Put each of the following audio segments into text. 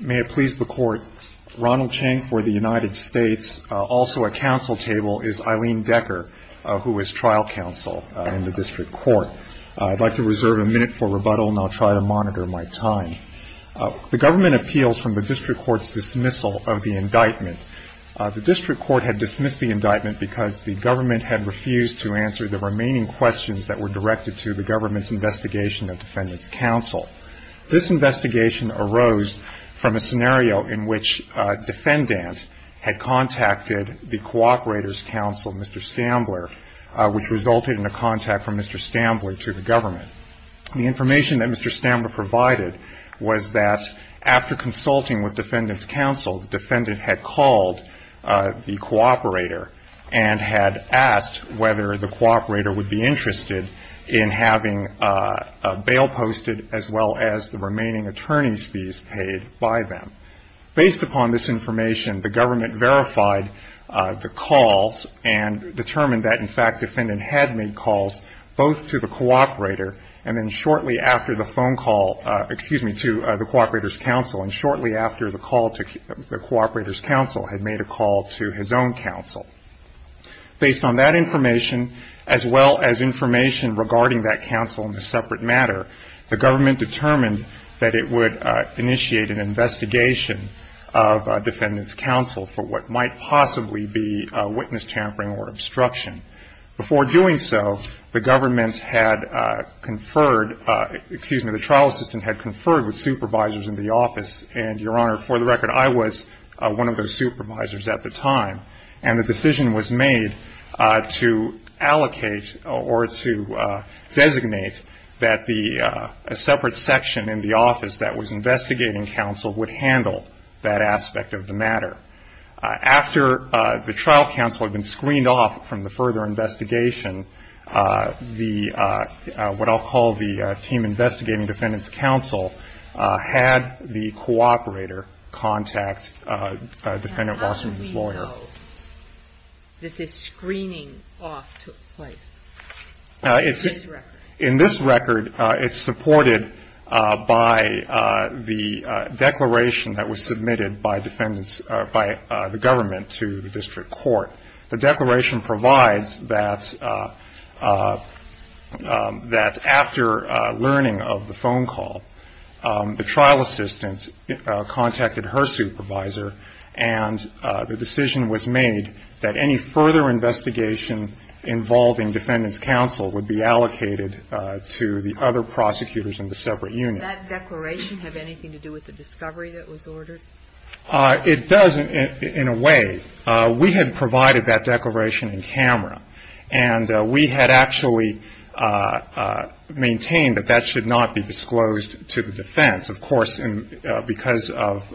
May it please the Court, Ronald Chang for the United States, also for the United States, is Eileen Decker, who is trial counsel in the District Court. I'd like to reserve a minute for rebuttal, and I'll try to monitor my time. The government appeals from the District Court's dismissal of the indictment. The District Court had dismissed the indictment because the government had refused to answer the remaining questions that were directed to the government's investigation of Defendant's Counsel. This investigation arose from a scenario in which a defendant had contacted the District Court's investigation of Defendant's Counsel. The District Court had contacted the Co-operators' Counsel, Mr. Stambler, which resulted in a contact from Mr. Stambler to the government. The information that Mr. Stambler provided was that after consulting with Defendant's Counsel, the defendant had called the co-operator and had asked whether the co-operator would be interested in having a bail posted as well as the remaining attorney's fees paid by them. Based upon this information, the government verified the calls and determined that, in fact, Defendant had made calls both to the co-operator and then shortly after the phone call, excuse me, to the Co-operators' Counsel, and shortly after the call to the Co-operators' Counsel, had made a call to his own counsel. Based on that information, as well as information regarding that counsel in a separate section in the office that was investigating counsel, the decision was made to allocate or to designate a separate section in the office that was investigating counsel would handle the litigation of Defendant's Counsel for what might possibly be witness tampering or obstruction. And so, as a result of that decision, the Co-operators' Counsel decided that they would not handle that aspect of the matter. After the trial counsel had been screened off from the further investigation, what I'll call the team investigating Defendant's Counsel had the co-operator contact Defendant Wasserman's lawyer. This is screening off took place. In this record, it's supported by the declaration that was submitted by the government to the district court. The declaration provides that after learning of the phone call, the trial assistant contacted her supervisor, and the decision was made to that any further investigation involving Defendant's Counsel would be allocated to the other prosecutors in the separate unit. That declaration have anything to do with the discovery that was ordered? It does, in a way. We had provided that declaration in camera, and we had actually maintained that that should not be disclosed to the defense. Of course, because of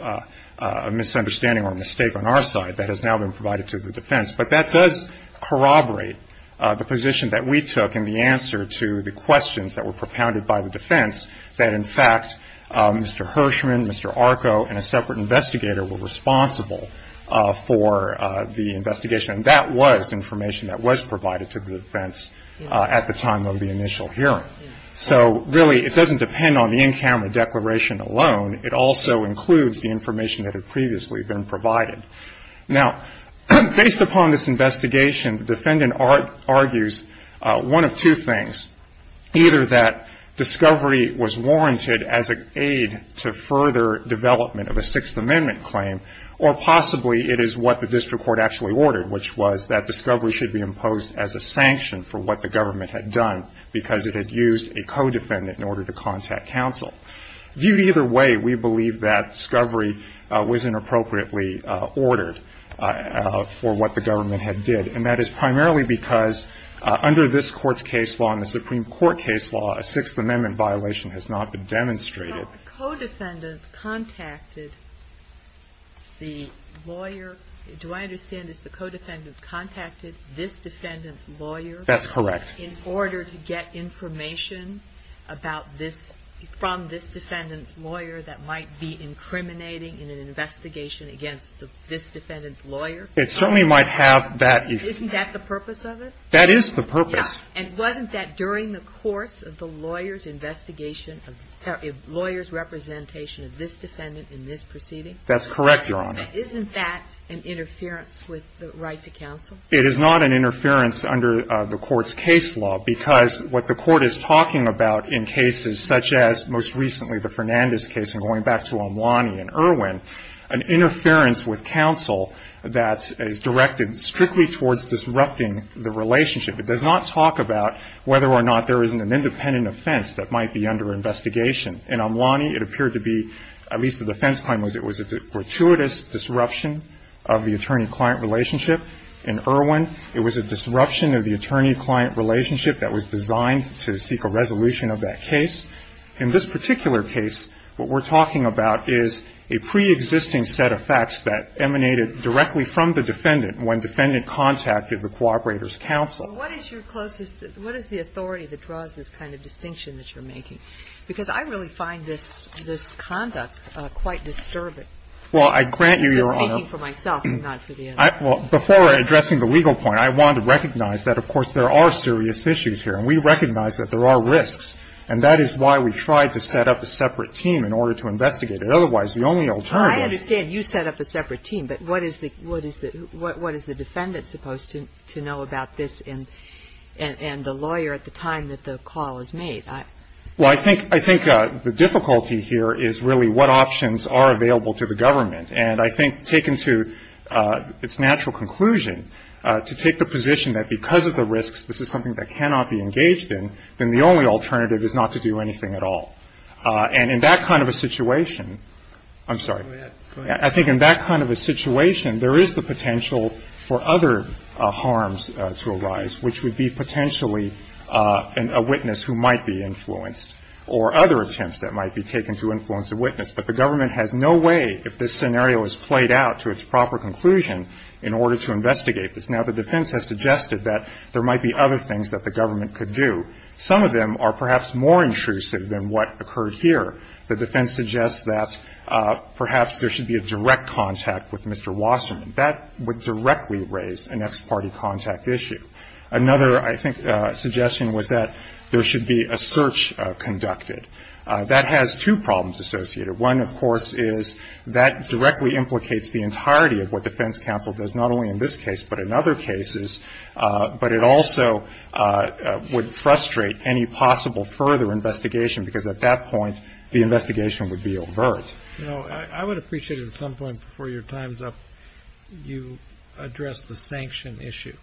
a misunderstanding or a mistake on our side, that has now been provided to the defense. But that does corroborate the position that we took in the answer to the questions that were propounded by the defense, that in fact, Mr. Hirshman, Mr. Arco, and a separate investigator were responsible for the investigation. And that was information that was provided to the defense at the time of the initial hearing. So really, it doesn't depend on the in-camera declaration alone. It also includes the information that had previously been provided. Now, based upon this investigation, the defendant argues one of two things, either that discovery was warranted as an aid to further development of a Sixth Amendment claim, or possibly it is what the district court actually ordered, which was that discovery should be used by a co-defendant in order to contact counsel. Viewed either way, we believe that discovery was inappropriately ordered for what the government had did. And that is primarily because under this Court's case law and the Supreme Court case law, a Sixth Amendment violation has not been demonstrated. So a co-defendant contacted the lawyer. Do I understand it's the co-defendant contacted this defendant's lawyer? That's correct. In order to get information about this, from this defendant's lawyer that might be incriminating in an investigation against this defendant's lawyer? It certainly might have that. Isn't that the purpose of it? That is the purpose. Yes. And wasn't that during the course of the lawyer's investigation, lawyer's representation of this defendant in this proceeding? That's correct, Your Honor. But isn't that an interference with the right to counsel? It is not an interference under the Court's case law, because what the Court is talking about in cases such as, most recently, the Fernandez case, and going back to Omwani and Irwin, an interference with counsel that is directed strictly towards disrupting the relationship. It does not talk about whether or not there is an independent offense that might be under investigation. In Omwani, it appeared to be, at least the defense claim was it was a gratuitous disruption of the attorney-client relationship. In Irwin, it was a disruption of the attorney-client relationship that was designed to seek a resolution of that case. In this particular case, what we're talking about is a preexisting set of facts that emanated directly from the defendant when defendant contacted the cooperator's counsel. Well, what is your closest – what is the authority that draws this kind of distinction that you're making? Because I really find this conduct quite disturbing. Well, I grant you, Your Honor. I'm just speaking for myself, not for the others. Well, before addressing the legal point, I want to recognize that, of course, there are serious issues here. And we recognize that there are risks. And that is why we tried to set up a separate team in order to investigate it. Otherwise, the only alternative – Well, I understand you set up a separate team. But what is the – what is the defendant supposed to know about this and the lawyer at the time that the call is made? Well, I think – I think the difficulty here is really what options are available to the government. And I think taken to its natural conclusion, to take the position that because of the risks, this is something that cannot be engaged in, then the only alternative is not to do anything at all. And in that kind of a situation – I'm sorry. Go ahead. I think in that kind of a situation, there is the potential for other harms to arise, which would be potentially a witness who might be influenced, or other attempts that might be taken to influence a witness. But the government has no way, if this scenario is played out to its proper conclusion, in order to investigate this. Now, the defense has suggested that there might be other things that the government could do. Some of them are perhaps more intrusive than what occurred here. The defense suggests that perhaps there should be a direct contact with Mr. Wasserman. That would directly raise an ex parte contact issue. Another, I think, suggestion was that there should be a search conducted. That has two problems associated. One, of course, is that directly implicates the entirety of what defense counsel does not only in this case but in other cases. But it also would frustrate any possible further investigation, because at that point the investigation would be overt. I would appreciate it at some point before your time is up, you address the sanction issue.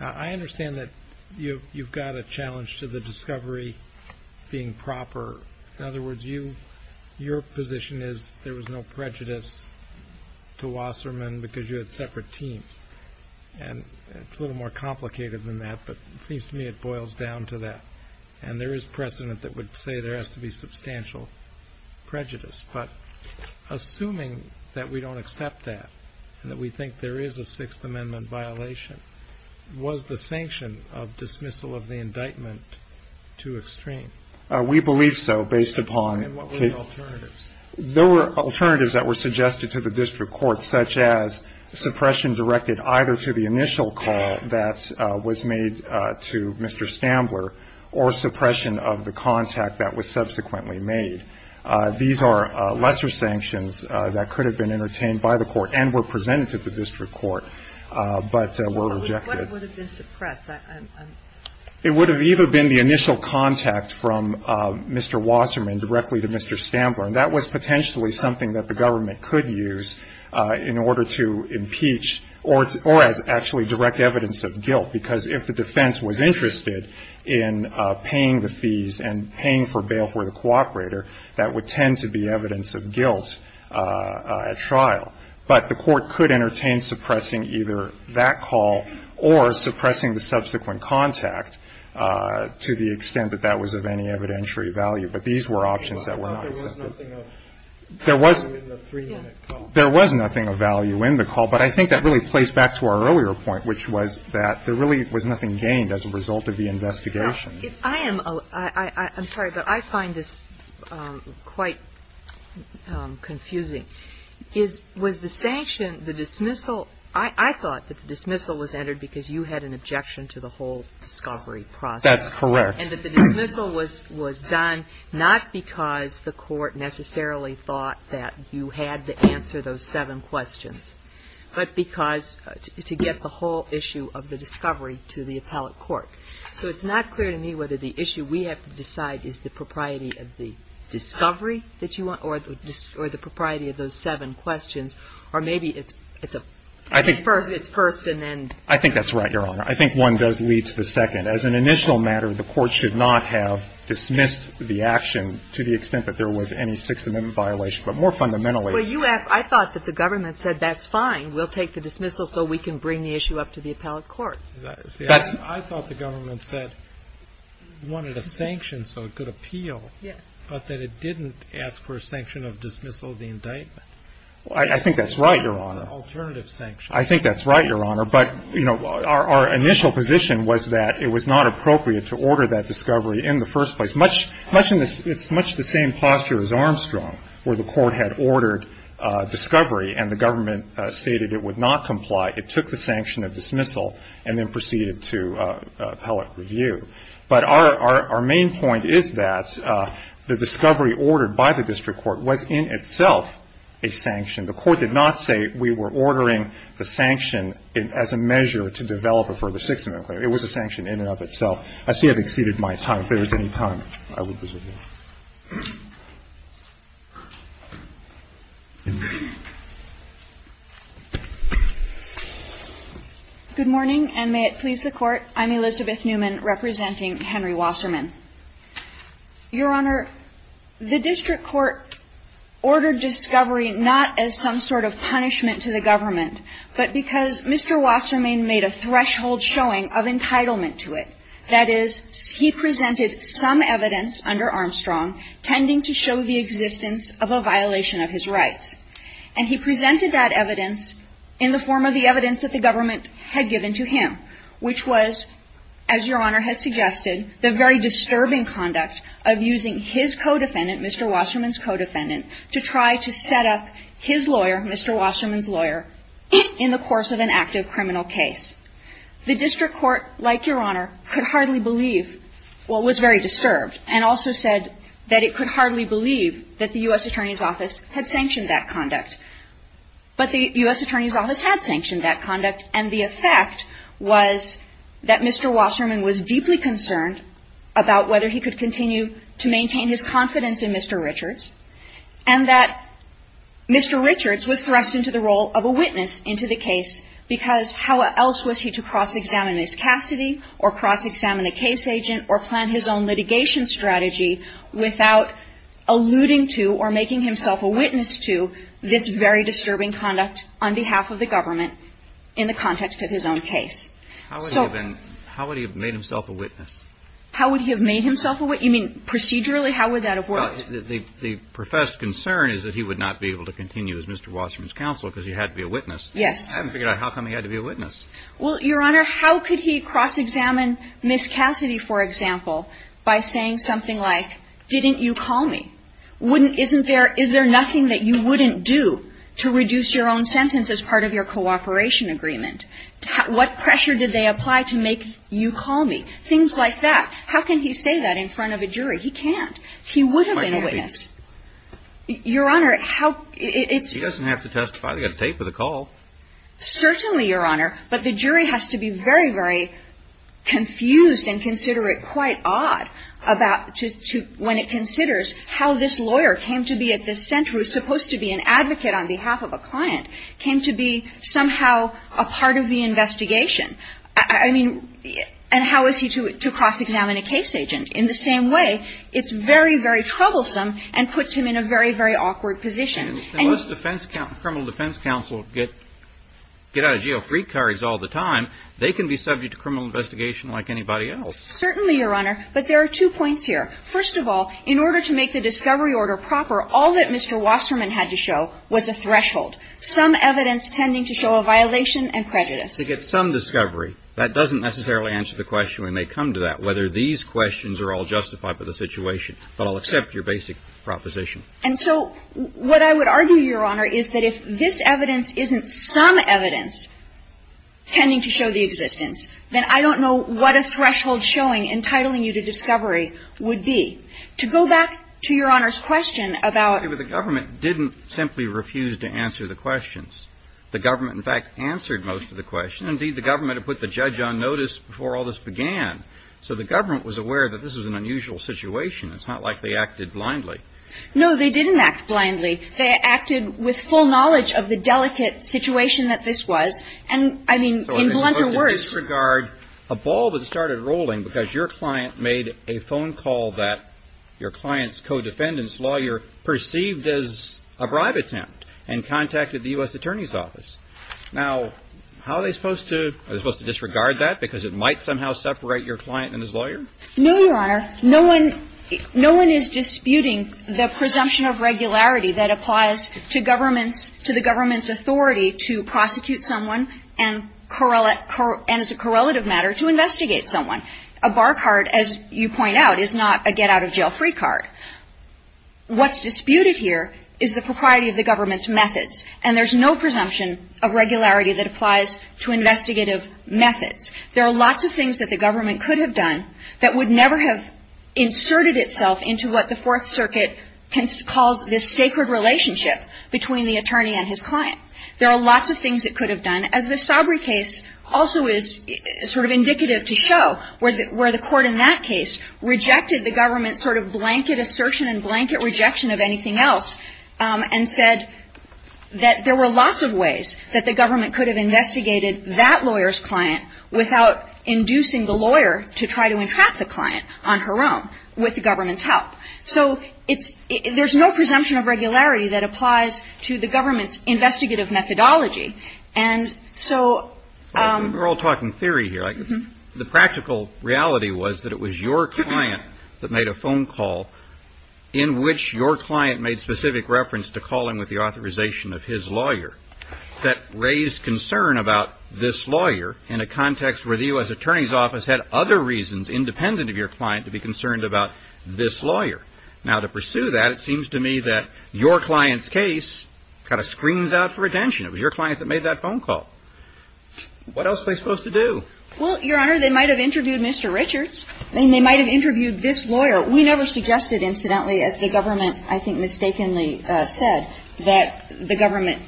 I understand that you've got a challenge to the discovery being proper. In other words, your position is there was no prejudice to Wasserman because you had separate teams. And it's a little more complicated than that, but it seems to me it boils down to that. And there is precedent that would say there has to be substantial prejudice. But assuming that we don't accept that, and that we think there is a Sixth Amendment violation, was the sanction of dismissal of the indictment too extreme? We believe so, based upon. And what were the alternatives? There were alternatives that were suggested to the district court, such as suppression directed either to the initial call that was made to Mr. Stambler or suppression of the contact that was subsequently made. These are lesser sanctions that could have been entertained by the court and were presented to the district court, but were rejected. What would have been suppressed? It would have either been the initial contact from Mr. Wasserman directly to Mr. Stambler. And that was potentially something that the government could use in order to impeach or as actually direct evidence of guilt, because if the defense was interested in paying the fees and paying for bail for the cooperator, that would tend to be evidence of guilt at trial. But the court could entertain suppressing either that call or suppressing the subsequent contact to the extent that that was of any evidentiary value. But these were options that were not accepted. There was nothing of value in the three-minute call. There was nothing of value in the call. But I think that really plays back to our earlier point, which was that there really was nothing gained as a result of the investigation. I am sorry, but I find this quite confusing. Was the sanction, the dismissal, I thought that the dismissal was entered because you had an objection to the whole discovery process. That's correct. And that the dismissal was done not because the court necessarily thought that you had to answer those seven questions, but because to get the whole issue of the discovery to the appellate court. So it's not clear to me whether the issue we have to decide is the propriety of the discovery that you want or the propriety of those seven questions, or maybe it's first and then the discovery. I think that's right, Your Honor. I think one does lead to the second. As an initial matter, the court should not have dismissed the action to the extent that there was any Sixth Amendment violation. But more fundamentally. Well, I thought that the government said that's fine. We'll take the dismissal so we can bring the issue up to the appellate court. I thought the government said it wanted a sanction so it could appeal, but that it didn't ask for a sanction of dismissal of the indictment. I think that's right, Your Honor. Alternative sanction. I think that's right, Your Honor. But, you know, our initial position was that it was not appropriate to order that discovery in the first place, much in the same posture as Armstrong, where the court had ordered discovery and the government stated it would not comply. It took the sanction of dismissal and then proceeded to appellate review. But our main point is that the discovery ordered by the district court was in itself a sanction. The court did not say we were ordering the sanction as a measure to develop a further Sixth Amendment claim. It was a sanction in and of itself. I see I've exceeded my time. If there was any time, I would resume. Good morning, and may it please the Court. I'm Elizabeth Newman representing Henry Wasserman. Your Honor, the district court ordered discovery not as some sort of punishment to the government, but because Mr. Wasserman made a threshold showing of entitlement to it. That is, he presented some evidence under Armstrong tending to show the existence of a violation of his rights. And he presented that evidence in the form of the evidence that the government had given to him, which was, as Your Honor has suggested, the very disturbing conduct of using his co-defendant, Mr. Wasserman's co-defendant, to try to set up his lawyer, Mr. Wasserman's lawyer, in the course of an active criminal case. The district court, like Your Honor, could hardly believe, well, was very disturbed and also said that it could hardly believe that the U.S. Attorney's Office had sanctioned that conduct. But the U.S. Attorney's Office had sanctioned that conduct, and the effect was that Mr. Wasserman was deeply concerned about whether he could continue to maintain his confidence in Mr. Richards, and that Mr. Richards was thrust into the role of a witness into the case, because how else was he to cross-examine Ms. Cassidy or cross-examine a case agent or plan his own litigation strategy without alluding to or making himself a witness to this very disturbing conduct on behalf of the government in the context of his own case? So — How would he have been — how would he have made himself a witness? How would he have made himself a witness? You mean procedurally? How would that have worked? Well, the professed concern is that he would not be able to continue as Mr. Wasserman's counsel because he had to be a witness. Yes. I haven't figured out how come he had to be a witness. Well, Your Honor, how could he cross-examine Ms. Cassidy, for example, by saying something like, didn't you call me? Wouldn't — isn't there — is there nothing that you wouldn't do to reduce your own sentence as part of your cooperation agreement? What pressure did they apply to make you call me? Things like that. How can he say that in front of a jury? He can't. He would have been a witness. Your Honor, how — He doesn't have to testify. They've got a tape of the call. Certainly, Your Honor, but the jury has to be very, very confused and consider it quite odd about — to — when it considers how this lawyer came to be at this center, who is supposed to be an advocate on behalf of a client, came to be somehow a part of the investigation. I mean — and how is he to cross-examine a case agent? In the same way, it's very, very troublesome and puts him in a very, very awkward position. Unless defense — criminal defense counsel get out of jail free carries all the time, they can be subject to criminal investigation like anybody else. Certainly, Your Honor. But there are two points here. First of all, in order to make the discovery order proper, all that Mr. Wasserman had to show was a threshold, some evidence tending to show a violation and prejudice. To get some discovery. That doesn't necessarily answer the question when they come to that, whether these questions are all justified by the situation. But I'll accept your basic proposition. And so what I would argue, Your Honor, is that if this evidence isn't some evidence tending to show the existence, then I don't know what a threshold showing, entitling you to discovery would be. To go back to Your Honor's question about — But the government didn't simply refuse to answer the questions. The government, in fact, answered most of the questions. Indeed, the government had put the judge on notice before all this began. So the government was aware that this was an unusual situation. It's not like they acted blindly. No, they didn't act blindly. They acted with full knowledge of the delicate situation that this was. And, I mean, in blunter words — So are they supposed to disregard a ball that started rolling because your client made a phone call that your client's co-defendant's lawyer perceived as a bribe attempt and contacted the U.S. Attorney's Office? Now, how are they supposed to — are they supposed to disregard that because it might somehow separate your client and his lawyer? No, Your Honor. No one is disputing the presumption of regularity that applies to the government's authority to prosecute someone and, as a correlative matter, to investigate someone. A bar card, as you point out, is not a get-out-of-jail-free card. What's disputed here is the propriety of the government's methods. And there's no presumption of regularity that applies to investigative methods. There are lots of things that the government could have done that would never have inserted itself into what the Fourth Circuit calls this sacred relationship between the attorney and his client. There are lots of things it could have done, as the Stauber case also is sort of indicative to show, where the court in that case rejected the government's sort of blanket assertion and blanket rejection of anything else and said that there were lots of ways that the government could have investigated that lawyer's case without inducing the lawyer to try to entrap the client on her own with the government's help. So it's – there's no presumption of regularity that applies to the government's investigative methodology. And so – We're all talking theory here, right? The practical reality was that it was your client that made a phone call in which your client made specific reference to calling with the authorization of his lawyer that raised concern about this lawyer in a context where the U.S. Attorney's Office had other reasons independent of your client to be concerned about this lawyer. Now, to pursue that, it seems to me that your client's case kind of screams out for attention. It was your client that made that phone call. What else are they supposed to do? Well, Your Honor, they might have interviewed Mr. Richards. I mean, they might have interviewed this lawyer. We never suggested, incidentally, as the government I think mistakenly said, that the government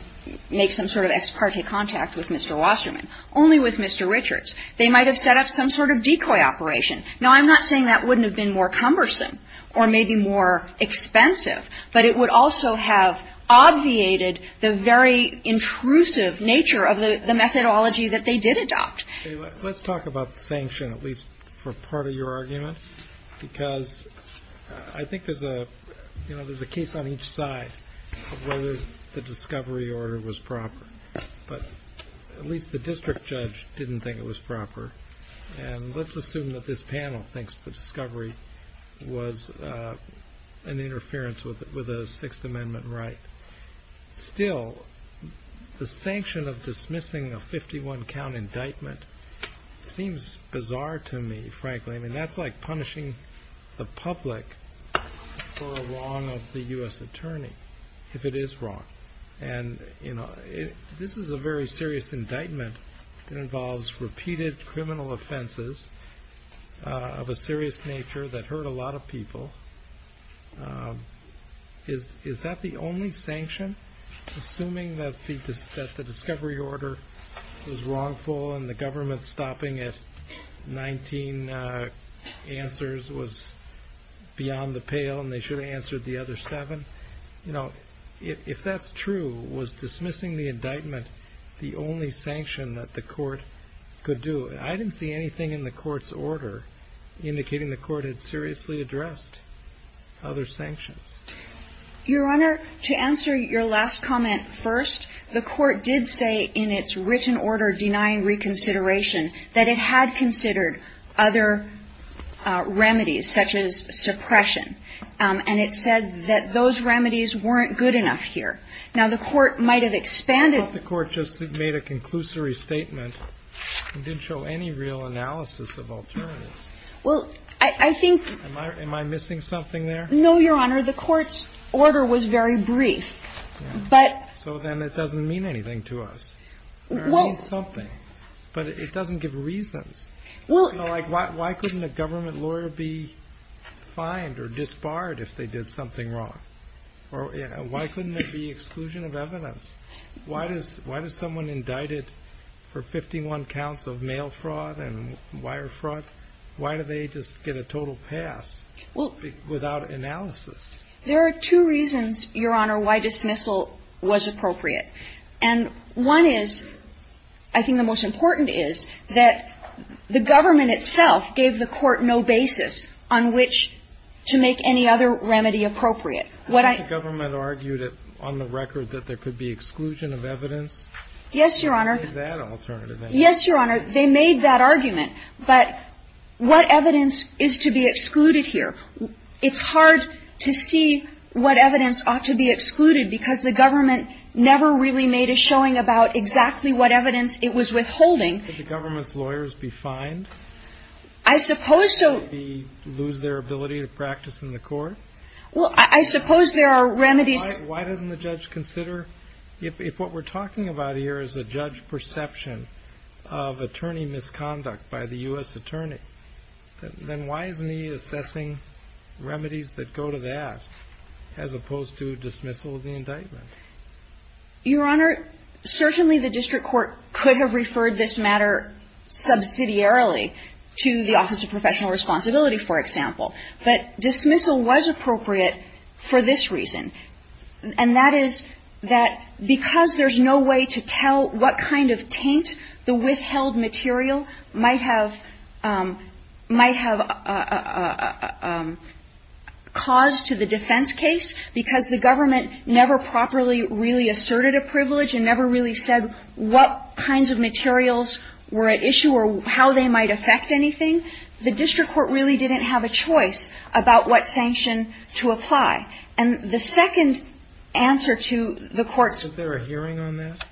make some sort of ex parte contact with Mr. Wasserman, only with Mr. Richards. They might have set up some sort of decoy operation. Now, I'm not saying that wouldn't have been more cumbersome or maybe more expensive, but it would also have obviated the very intrusive nature of the methodology that they did adopt. Okay. Let's talk about the sanction, at least for part of your argument, because I think there's a case on each side of whether the discovery order was proper. But at least the district judge didn't think it was proper. And let's assume that this panel thinks the discovery was an interference with a Sixth Amendment right. Still, the sanction of dismissing a 51-count indictment seems bizarre to me, frankly. I mean, that's like punishing the public for a wrong of the U.S. attorney, if it is wrong. And this is a very serious indictment. It involves repeated criminal offenses of a serious nature that hurt a lot of people. Is that the only sanction? Assuming that the discovery order was wrongful and the government stopping at 19 answers was beyond the pale and they should have answered the other seven. You know, if that's true, was dismissing the indictment the only sanction that the court could do? I didn't see anything in the court's order indicating the court had seriously addressed other sanctions. Your Honor, to answer your last comment first, the court did say in its written order denying reconsideration that it had considered other remedies, such as suppression. And it said that those remedies weren't good enough here. Now, the court might have expanded. I thought the court just made a conclusory statement. It didn't show any real analysis of alternatives. Well, I think. Am I missing something there? No, your Honor. The court's order was very brief. But. So then it doesn't mean anything to us. Well. It means something. But it doesn't give reasons. Well. You know, like, why couldn't a government lawyer be fined or disbarred if they did something wrong? Or, you know, why couldn't it be exclusion of evidence? Why does someone indicted for 51 counts of mail fraud and wire fraud, why do they just get a total pass? Well. Without analysis. There are two reasons, your Honor, why dismissal was appropriate. And one is, I think the most important is, that the government itself gave the court no basis on which to make any other remedy appropriate. What I. The government argued on the record that there could be exclusion of evidence. Yes, your Honor. Yes, your Honor. They made that argument. But what evidence is to be excluded here? It's hard to see what evidence ought to be excluded because the government never really made a showing about exactly what evidence it was withholding. Could the government's lawyers be fined? I suppose so. Could they lose their ability to practice in the court? Well, I suppose there are remedies. Why doesn't the judge consider, if what we're talking about here is a judge perception of attorney misconduct by the U.S. attorney, then why isn't he assessing remedies that go to that, as opposed to dismissal of the indictment? Your Honor, certainly the district court could have referred this matter subsidiarily to the Office of Professional Responsibility, for example. But dismissal was appropriate for this reason, and that is that because there's no way to tell what kind of taint the withheld material might have caused to the defense case, because the government never properly really asserted a privilege and never really said what kinds of materials were at issue or how they might affect anything, the district court really didn't have a choice about what sanction to apply. And the second answer to the court's question. Was there a hearing on that?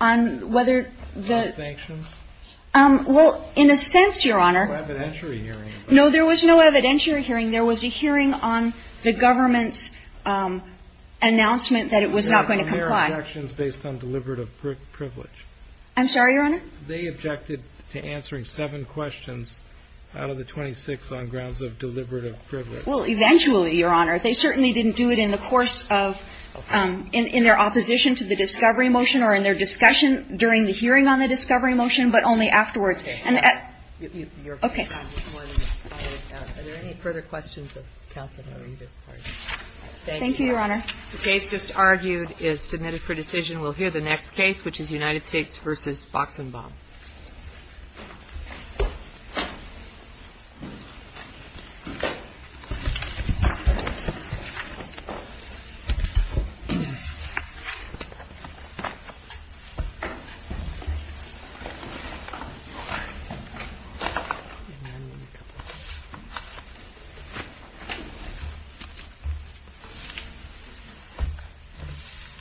On whether the ---- No sanctions? Well, in a sense, Your Honor ---- No evidentiary hearing. No, there was no evidentiary hearing. There was a hearing on the government's announcement that it was not going to comply. There were objections based on deliberative privilege. I'm sorry, Your Honor? They objected to answering seven questions out of the 26 on grounds of deliberative privilege. Well, eventually, Your Honor. They certainly didn't do it in the course of ---- Okay. In their opposition to the discovery motion or in their discussion during the hearing on the discovery motion, but only afterwards. Okay. Okay. Are there any further questions of counsel? Thank you, Your Honor. The case just argued is submitted for decision. We'll hear the next case, which is United States v. Boxenbaum.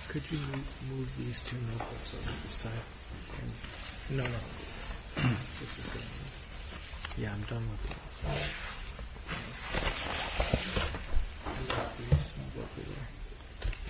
Could you move these two notes over to the side? No, no. This is good. Yeah, I'm done with this. I'm just going to go over here.